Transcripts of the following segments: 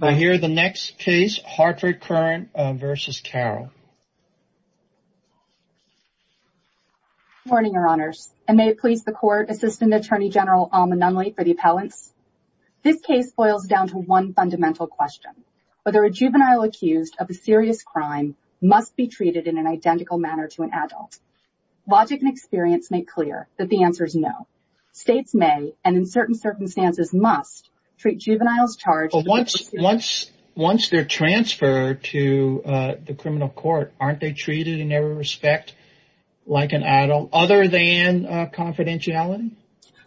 I hear the next case Hartford Courant v. Carroll. Good morning, your honors, and may it please the court, Assistant Attorney General Alma Nunley for the appellants. This case boils down to one fundamental question, whether a juvenile accused of a serious crime must be treated in an identical manner to an adult. Logic and experience make clear that the answer is no. States may and in certain circumstances must treat juveniles charged. Once they're transferred to the criminal court, aren't they treated in every respect like an adult other than confidentiality?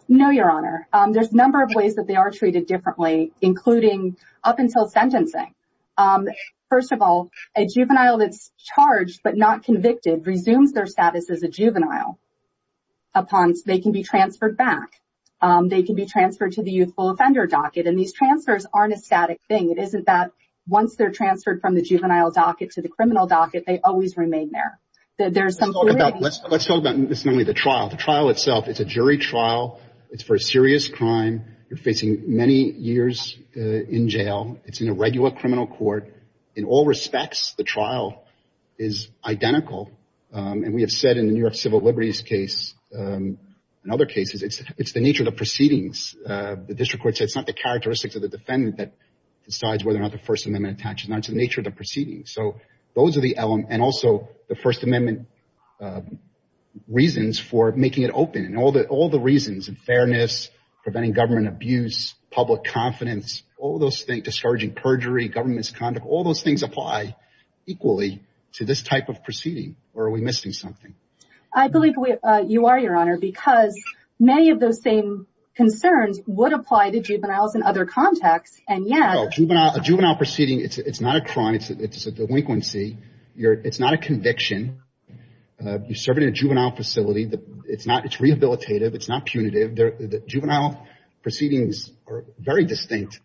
No, your honor. There's a number of ways that they are treated differently, including up until sentencing. First of all, a juvenile that's charged but not convicted resumes their status as a juvenile. They can be transferred back. They can be transferred to the youthful offender docket, and these transfers aren't a static thing. It isn't that once they're transferred from the juvenile docket to the criminal docket, they always remain there. There's some... Let's talk about the trial. The trial itself, it's a jury trial. It's for a serious crime. You're facing many years in jail. It's in a regular criminal court. In all respects, the trial is identical, and we have said in the New York Civil Liberties case and other cases, it's the nature of the proceedings. The district court said it's not the characteristics of the defendant that decides whether or not the First Amendment attaches. It's the nature of the proceedings. Those are the elements and also the First Amendment reasons for making it open. All the reasons, fairness, preventing government abuse, public confidence, all those things, discouraging perjury, government misconduct, all those things apply equally to this type of proceeding, or are we missing something? I believe you are, Your Honor, because many of those same concerns would apply to juveniles in other contexts, and yes... A juvenile proceeding, it's not a crime. It's a delinquency. It's not a conviction. You serve in a juvenile facility. It's rehabilitative. It's not punitive. Juvenile proceedings are very different.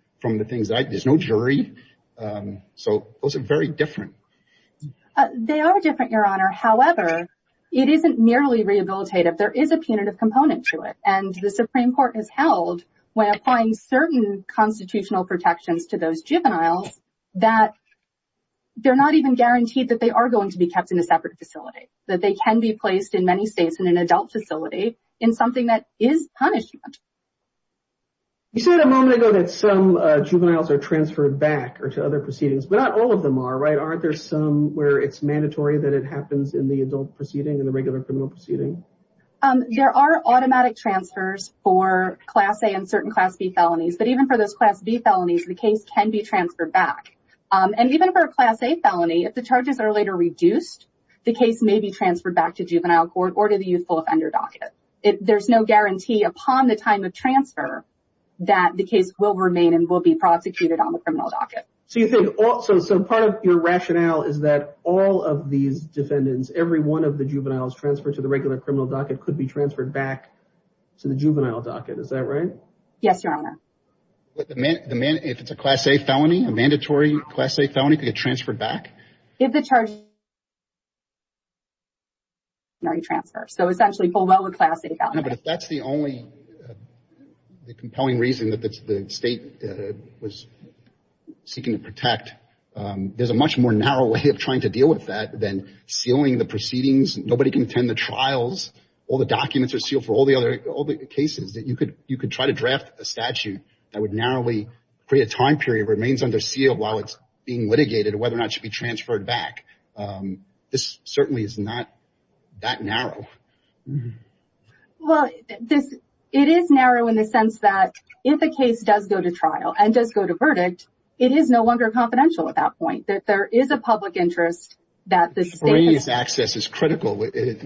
They are different, Your Honor. However, it isn't merely rehabilitative. There is a punitive component to it, and the Supreme Court has held when applying certain constitutional protections to those juveniles that they're not even guaranteed that they are going to be kept in a separate facility, that they can be placed in many states in an adult facility in something that is punishment. You said a moment ago that some juveniles are transferred back or to other proceedings, but not all of them are, right? Aren't there some where it's mandatory that it happens in the adult proceeding and the regular criminal proceeding? There are automatic transfers for Class A and certain Class B felonies, but even for those Class B felonies, the case can be transferred back, and even for a Class A felony, if the charges are later reduced, the case may be transferred back to juvenile court or to the youthful offender docket. There's no guarantee upon the time of So part of your rationale is that all of these defendants, every one of the juveniles transferred to the regular criminal docket could be transferred back to the juvenile docket. Is that right? Yes, Your Honor. If it's a Class A felony, a mandatory Class A felony could get transferred back? If the charges are already transferred. So essentially, full well with Class A felonies. But if that's the only compelling reason that the state was seeking to protect, there's a much more narrow way of trying to deal with that than sealing the proceedings. Nobody can attend the trials. All the documents are sealed for all the other cases that you could try to draft a statute that would narrowly create a time period remains under seal while it's being litigated, whether or not it should be transferred back. This certainly is not that narrow. Mm hmm. Well, it is narrow in the sense that if a case does go to trial and does go to verdict, it is no longer confidential at that point, that there is a public interest. That the state's access is critical. In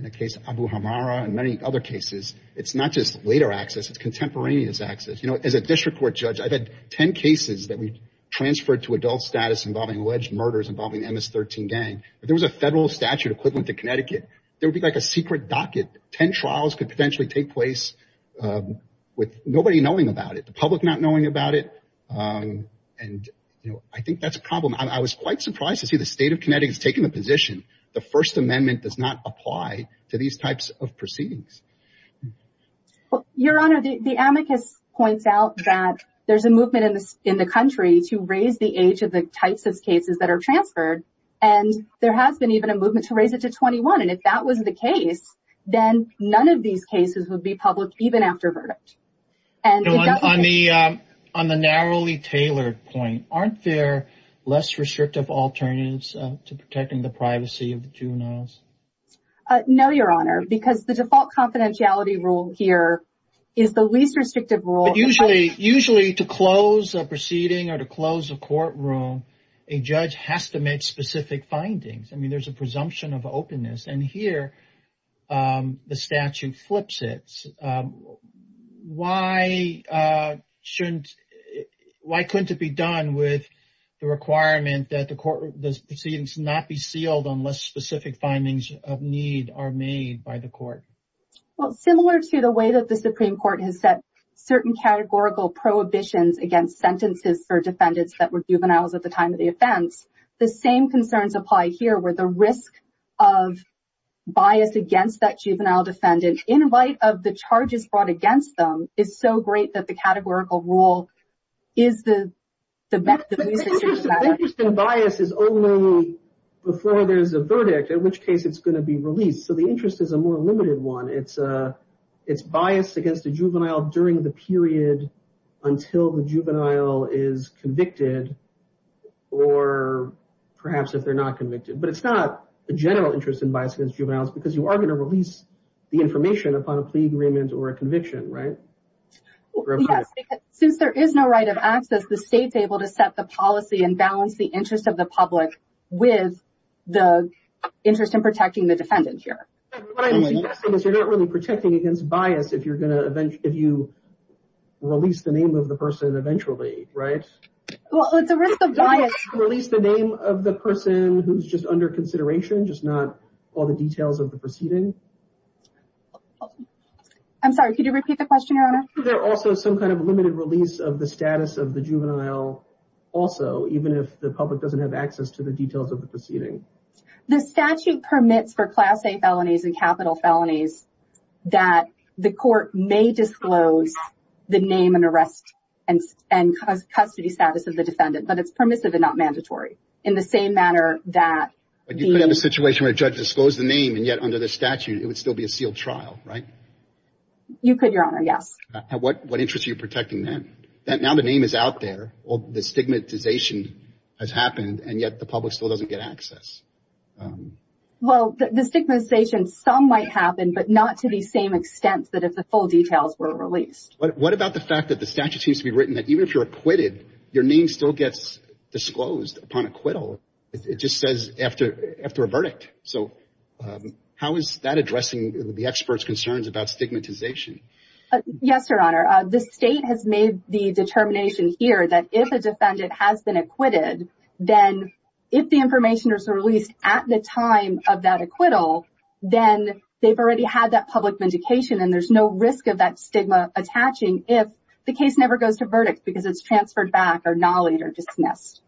the case of Abu Hamara and many other cases, it's not just later access, it's contemporaneous access. You know, as a district court judge, I've had 10 cases that we transferred to adult status involving alleged murders involving MS-13 gang. If there was a federal statute equivalent to Connecticut, there would be like a secret docket. Ten trials could potentially take place with nobody knowing about it, the public not knowing about it. And, you know, I think that's a problem. I was quite surprised to see the state of Connecticut taking the position. The First Amendment does not apply to these types of proceedings. Your Honor, the amicus points out that there's a movement in the country to raise the age of the types of cases that are transferred. And there has been even a movement to raise it to 21. And if that was the case, then none of these cases would be public even after verdict. And on the narrowly tailored point, aren't there less restrictive alternatives to protecting the privacy of the juveniles? No, Your Honor, because the default confidentiality rule here is the least a judge has to make specific findings. I mean, there's a presumption of openness. And here, the statute flips it. Why couldn't it be done with the requirement that the proceedings not be sealed unless specific findings of need are made by the court? Well, similar to the way that the Supreme Court has set certain categorical prohibitions against sentences for defendants that were juveniles at the time of the offense, the same concerns apply here, where the risk of bias against that juvenile defendant, in light of the charges brought against them, is so great that the categorical rule is the method used. The interest in bias is only before there's a verdict, in which case it's going to be released. So the interest is a more limited one. It's bias against a juvenile during the period until the juvenile is convicted, or perhaps if they're not convicted. But it's not a general interest in bias against juveniles because you are going to release the information upon a plea agreement or a conviction, right? Yes, because since there is no right of access, the state's able to set the policy and balance the interest of the public with the interest in protecting the defendant here. What I'm suggesting is you're not really protecting against bias if you release the name of the person eventually, right? Well, it's a risk of bias. Release the name of the person who's just under consideration, just not all the details of the proceeding. I'm sorry, could you repeat the question, Your Honor? Is there also some kind of limited release of the status of the juvenile also, even if the public doesn't have access to the details of the proceeding? The statute permits for Class A felonies and capital felonies that the court may disclose the name and arrest and custody status of the defendant, but it's permissive and not mandatory. In the same manner that... But you could have a situation where a judge disclosed the name and yet under the statute it would still be a sealed trial, right? You could, Your Honor, yes. What interest are you protecting then? Now the name is out there, all the stigmatization has happened, and yet the public still doesn't get access. Well, the stigmatization, some might happen, but not to the same extent that if the full details were released. What about the fact that the statute seems to be written that even if you're acquitted, your name still gets disclosed upon acquittal. It just says after a verdict. So how is that addressing the expert's concerns about stigmatization? Yes, Your Honor. The state has made the determination here that if a defendant has been acquitted, then if the information is released at the time of that acquittal, then they've already had that public vindication and there's no risk of that stigma attaching if the case never goes to verdict because it's transferred back or gnollied or dismissed.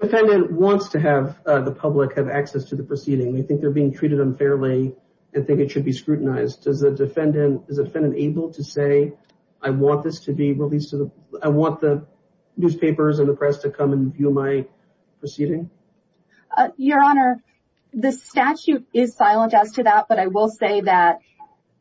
Defendant wants to have the public have access to the proceeding. They think they're being treated unfairly and think it should be scrutinized. Is the defendant able to say, I want this to be released, I want the newspapers and the press to come and view my proceeding? Your Honor, the statute is silent as to that, but I will say that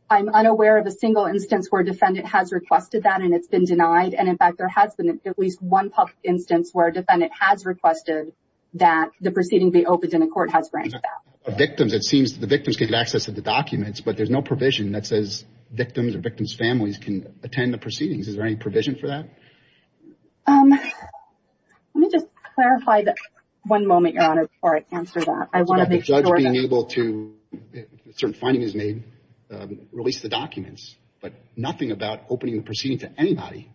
I'm unaware of a single instance where a defendant has requested that and it's been denied. And in fact, there has been at least one public instance where a defendant has requested that the proceeding be opened and the court has granted that. For victims, it seems that the victims can get access to the documents, but there's no provision that says victims or victims' families can attend the proceedings. Is there any provision for that? Let me just clarify that one moment, Your Honor, before I answer that. It's about the judge being able to, when a certain finding is made, release the documents, but nothing about opening the proceeding to anybody.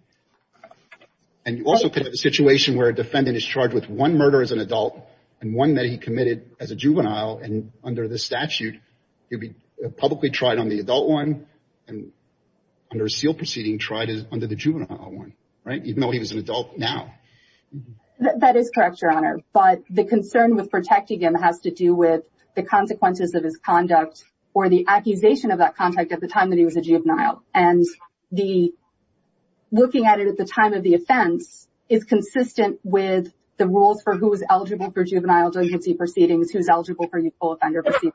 And you also could have a situation where a defendant is charged with one murder as an adult and one that he committed as a juvenile under the statute. He'd be publicly tried on the adult one and under a SEAL proceeding, tried under the juvenile one, right? Even though he was an adult now. That is correct, Your Honor. But the concern with protecting him has to do with the consequences of his conduct or the accusation of that contact at the time that he was a juvenile. And looking at it at the time of the offense is consistent with the rules for who is eligible for juvenile full offender proceedings.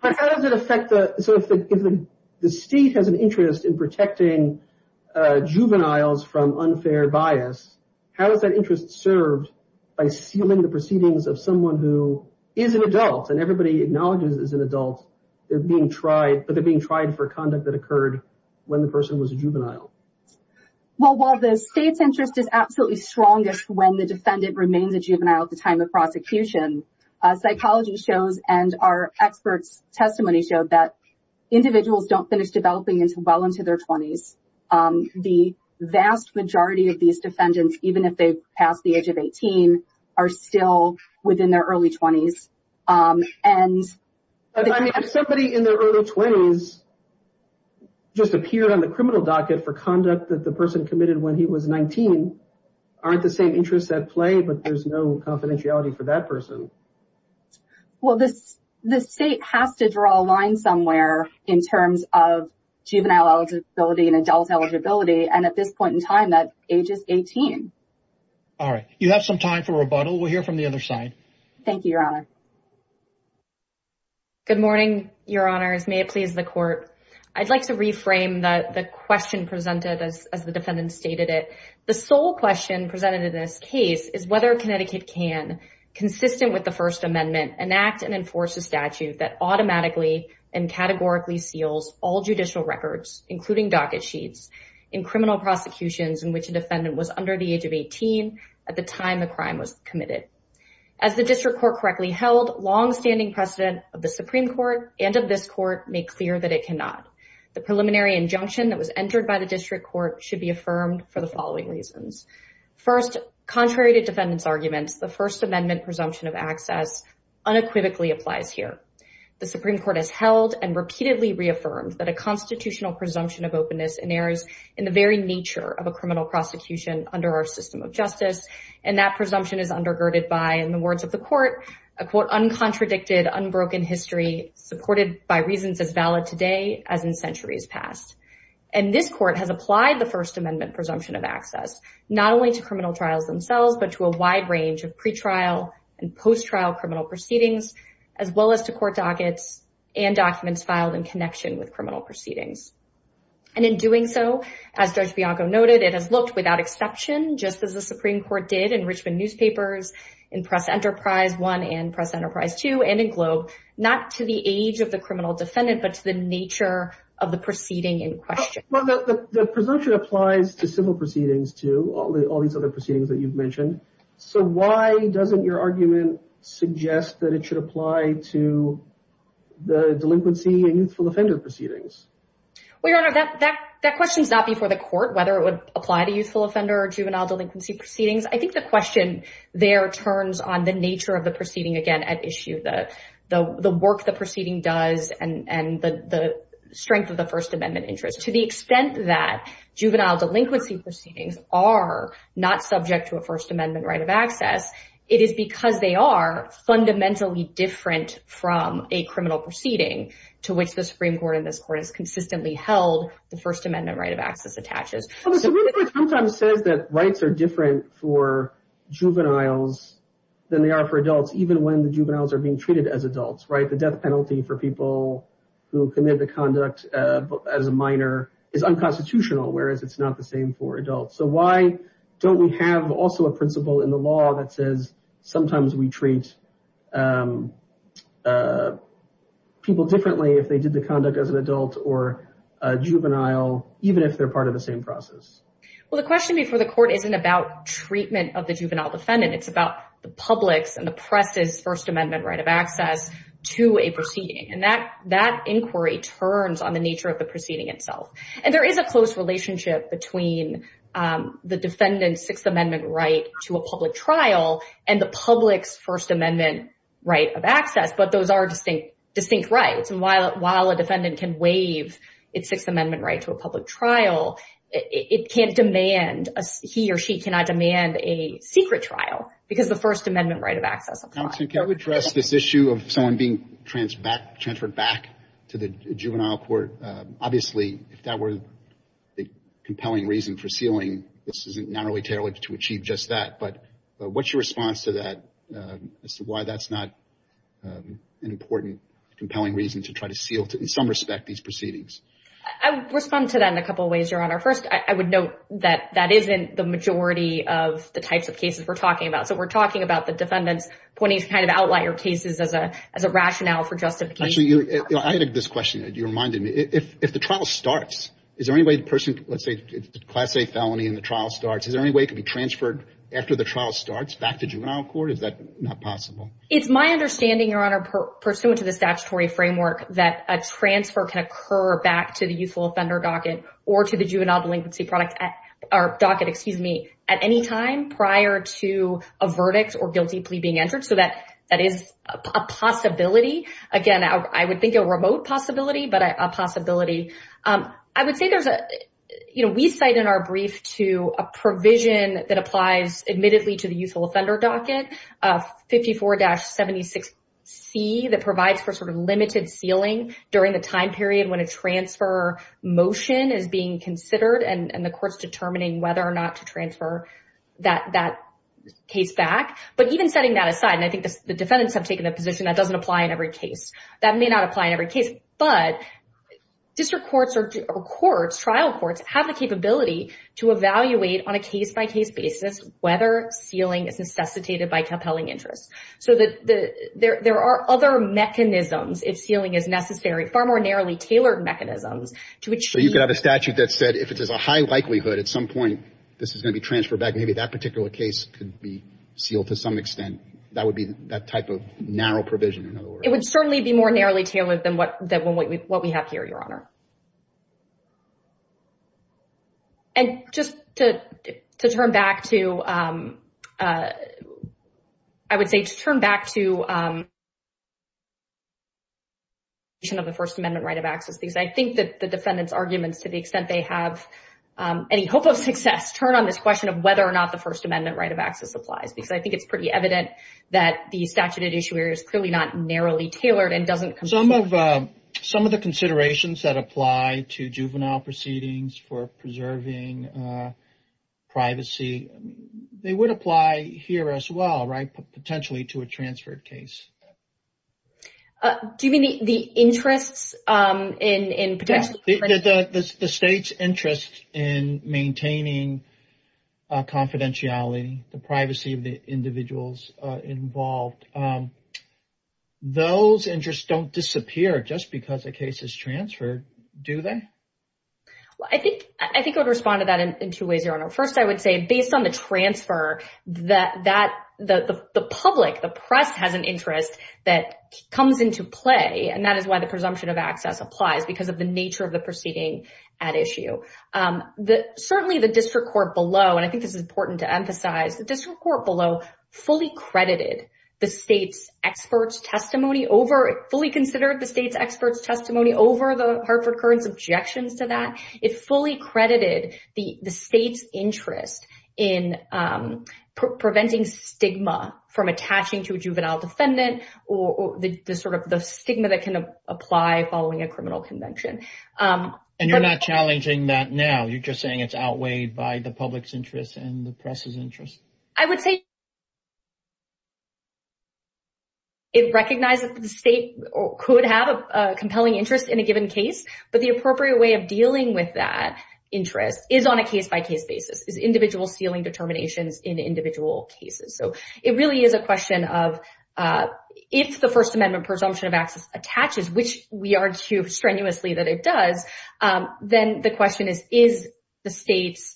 But how does it affect the, so if the state has an interest in protecting juveniles from unfair bias, how is that interest served by sealing the proceedings of someone who is an adult and everybody acknowledges as an adult, they're being tried, but they're being tried for conduct that occurred when the person was a juvenile? Well, while the state's interest is absolutely strongest when the defendant remains a juvenile at the time of prosecution, psychology shows and our experts' testimony showed that individuals don't finish developing well into their 20s. The vast majority of these defendants, even if they pass the age of 18, are still within their early 20s. And if somebody in their early 20s just appeared on the criminal docket for conduct that the person committed when he was 19, aren't the same interests at play, but there's no confidentiality for that person. Well, the state has to draw a line somewhere in terms of juvenile eligibility and adult eligibility. And at this point in time, that age is 18. All right. You have some time for rebuttal. We'll hear from the other side. Thank you, Your Honor. Good morning, Your Honors. May it please the court. I'd like to reframe the question presented as the defendant stated it. The sole question presented in this case is whether Connecticut can, consistent with the First Amendment, enact and enforce a statute that automatically and categorically seals all judicial records, including docket sheets, in criminal prosecutions in which a defendant was under the age of 18 at the time the crime was committed. As the district court correctly held, longstanding precedent of the Supreme Court and of this court make clear that it cannot. The preliminary injunction that was entered by the district court should be affirmed for the following reasons. First, contrary to defendant's arguments, the First Amendment presumption of access unequivocally applies here. The Supreme Court has held and repeatedly reaffirmed that a constitutional presumption of openness in errors in the very nature of a criminal prosecution under our system of justice. And that presumption is undergirded by, in the words of the court, a quote, uncontradicted, unbroken history supported by reasons as valid today as in centuries past. And this court has applied the First Amendment presumption of access not only to criminal trials themselves, but to a wide range of pretrial and post-trial criminal proceedings, as well as to court dockets and documents filed in connection with criminal proceedings. And in doing so, as Judge Bianco noted, it has looked without exception, just as the Supreme Court did in Richmond newspapers, in Press Enterprise 1 and Press Enterprise 2, and in Globe, not to the age of the criminal defendant, but to the nature of the proceeding in question. But the presumption applies to civil proceedings too, all these other proceedings that you've mentioned. So why doesn't your argument suggest that it should apply to the delinquency and youthful offender proceedings? Well, Your Honor, that question's not before the court, whether it would apply to youthful offender or juvenile delinquency proceedings. I think the work the proceeding does and the strength of the First Amendment interest, to the extent that juvenile delinquency proceedings are not subject to a First Amendment right of access, it is because they are fundamentally different from a criminal proceeding to which the Supreme Court in this court has consistently held the First Amendment right of access attaches. Well, the Supreme Court sometimes says that rights are different for juveniles than they are for adults. The death penalty for people who commit the conduct as a minor is unconstitutional, whereas it's not the same for adults. So why don't we have also a principle in the law that says sometimes we treat people differently if they did the conduct as an adult or a juvenile, even if they're part of the same process? Well, the question before the court isn't about treatment of the juvenile defendant. It's about the public's and the press's First Amendment right to a proceeding. And that inquiry turns on the nature of the proceeding itself. And there is a close relationship between the defendant's Sixth Amendment right to a public trial and the public's First Amendment right of access, but those are distinct rights. And while a defendant can waive its Sixth Amendment right to a public trial, he or she cannot demand a secret trial because of the First Amendment right of access. Counsel, can you address this issue of someone being transferred back to the juvenile court? Obviously, if that were the compelling reason for sealing, this is not really tailored to achieve just that. But what's your response to that as to why that's not an important, compelling reason to try to seal, in some respect, these proceedings? I would respond to that in a couple of ways, Your Honor. First, I would note that that isn't the majority of the types of cases we're talking about. So we're talking about the defendants kind of outlier cases as a rationale for justification. Actually, I had this question. You reminded me. If the trial starts, is there any way the person, let's say, Class A felony and the trial starts, is there any way it could be transferred after the trial starts back to juvenile court? Is that not possible? It's my understanding, Your Honor, pursuant to the statutory framework, that a transfer can occur back to the youthful offender docket or to the juvenile delinquency product or docket, excuse me, at any time prior to a verdict or guilty plea being entered. So that is a possibility. Again, I would think a remote possibility, but a possibility. I would say there's a, you know, we cite in our brief to a provision that applies admittedly to the youthful offender docket, 54-76C, that provides for sort of limited sealing during the time period when a transfer motion is being considered and the court's determining whether or not to transfer that case back. But even setting that aside, and I think the defendants have taken the position that doesn't apply in every case. That may not apply in every case, but district courts or courts, trial courts, have the capability to evaluate on a case-by-case basis whether sealing is necessitated by compelling interest. So there are other mechanisms if sealing is necessary, far more tailored mechanisms to achieve... So you could have a statute that said if it is a high likelihood at some point this is going to be transferred back, maybe that particular case could be sealed to some extent. That would be that type of narrow provision, in other words. It would certainly be more narrowly tailored than what we have here, Your Honor. And just to turn back to, I would say to turn back to the question of the First Amendment right of access, because I think that the defendants' arguments, to the extent they have any hope of success, turn on this question of whether or not the First Amendment right of access applies, because I think it's pretty evident that the statute at issue here is clearly not narrowly tailored and doesn't... Some of the considerations that apply to juvenile proceedings for preserving privacy, they would apply here as well, right, potentially to a transferred case. Do you mean the interests in potentially... Yeah, the state's interest in maintaining confidentiality, the privacy of the individuals involved. Those interests don't disappear just because a case is transferred, do they? Well, I think I would respond to that in two ways, Your Honor. First, I would say based on the transfer, the public, the press has an interest that comes into play, and that is why the presumption of access applies, because of the nature of the proceeding at issue. Certainly, the district court below, and I think this is important to emphasize, the district court below fully credited the state's expert's testimony over... Fully considered the state's expert's testimony over the Hartford Courant's objections to that. It fully credited the state's interest in preventing stigma from attaching to a juvenile defendant or the stigma that can apply following a criminal convention. And you're not challenging that now? You're just saying it's outweighed by the public's interest and the press's interest? I would say... It recognizes that the state could have a compelling interest in a given case, but the appropriate way of dealing with that is individual sealing determinations in individual cases. So it really is a question of if the First Amendment presumption of access attaches, which we argue strenuously that it does, then the question is, is the state's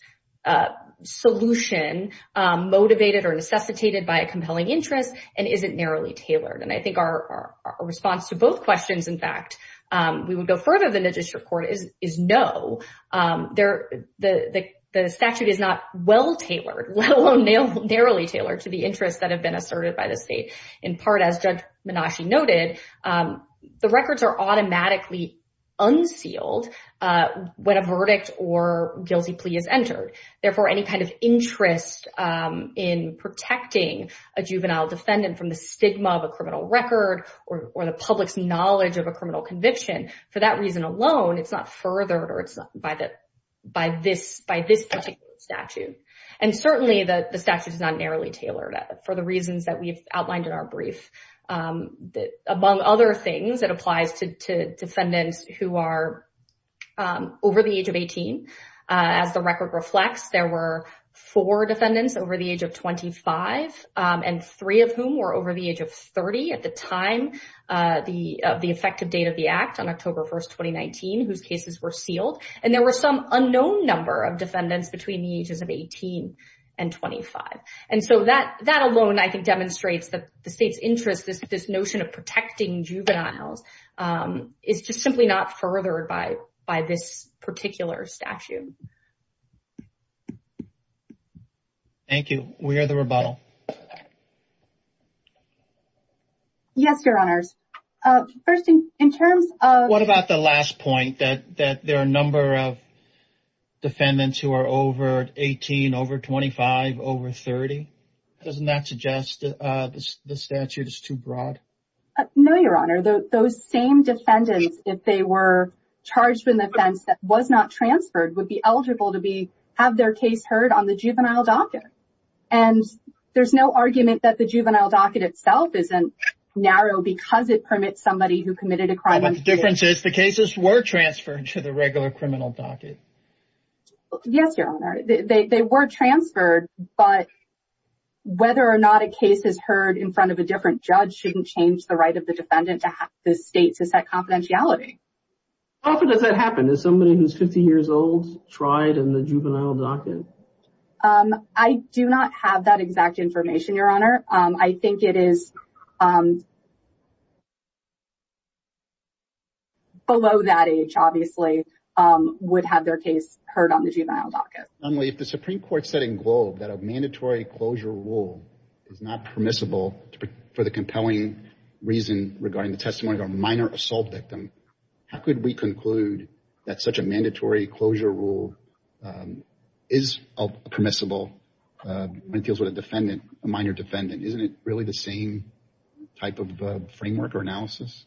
solution motivated or necessitated by a compelling interest? And is it narrowly tailored? And I think our response to both questions, in fact, we would go further than the district court is no. The statute is not well tailored, let alone narrowly tailored to the interests that have been asserted by the state. In part, as Judge Menasci noted, the records are automatically unsealed when a verdict or guilty plea is entered. Therefore, any kind of interest in protecting a juvenile defendant from the stigma of a criminal record or the public's knowledge of a criminal conviction, for that reason alone, it's not furthered by this particular statute. And certainly the statute is not narrowly tailored for the reasons that we've outlined in our brief. Among other things, it applies to defendants who are over the age of 18. As the record reflects, there were four defendants over the age of 25, and three of whom were over the age of 30 at the time of the effective date of the act on October 1, 2019, whose cases were sealed. And there were some unknown number of defendants between the ages of 18 and 25. And so that alone, I think, demonstrates that the state's interest, this notion of protecting juveniles, is just simply not furthered by this particular statute. Thank you. We hear the rebuttal. Yes, Your Honors. First, in terms of... What about the last point, that there are a number of defendants who are over 18, over 25, over 30? Doesn't that suggest the statute is too broad? No, Your Honor. Those same defendants, if they were charged with an offense that was not transferred, would be eligible to have their case heard on the juvenile docket. And there's no argument that the juvenile docket itself isn't narrow because it permits somebody who committed a crime... But the difference is, the cases were transferred to the regular criminal docket. Yes, Your Honor. They were transferred, but whether or not a case is heard in front of a different judge shouldn't change the right of the defendant to have the state to set confidentiality. How often does that happen? Is somebody who's 50 years old tried in the juvenile docket? I do not have that exact information, Your Honor. I think it is... Below that age, obviously, would have their case heard on the juvenile docket. If the Supreme Court said in Globe that a mandatory closure rule is not permissible for the compelling reason regarding the testimony of a minor assault victim, how could we conclude that such a mandatory closure rule is permissible when it deals with a minor defendant? Isn't it really the same type of framework or analysis?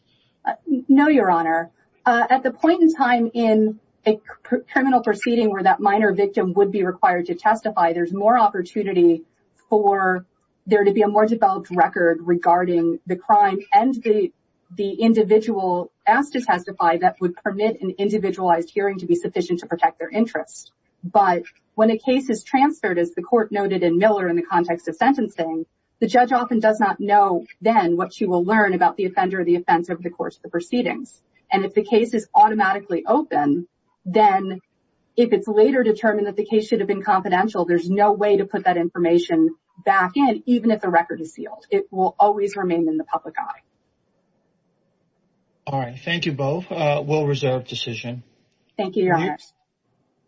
No, Your Honor. At the point in time in a criminal proceeding where that minor victim would be regarding the crime and the individual asked to testify, that would permit an individualized hearing to be sufficient to protect their interest. But when a case is transferred, as the court noted in Miller in the context of sentencing, the judge often does not know then what she will learn about the offender or the offense over the course of the proceedings. And if the case is automatically open, then if it's later determined that the case should have confidential, there's no way to put that information back in even if the record is sealed. It will always remain in the public eye. All right. Thank you both. We'll reserve decision.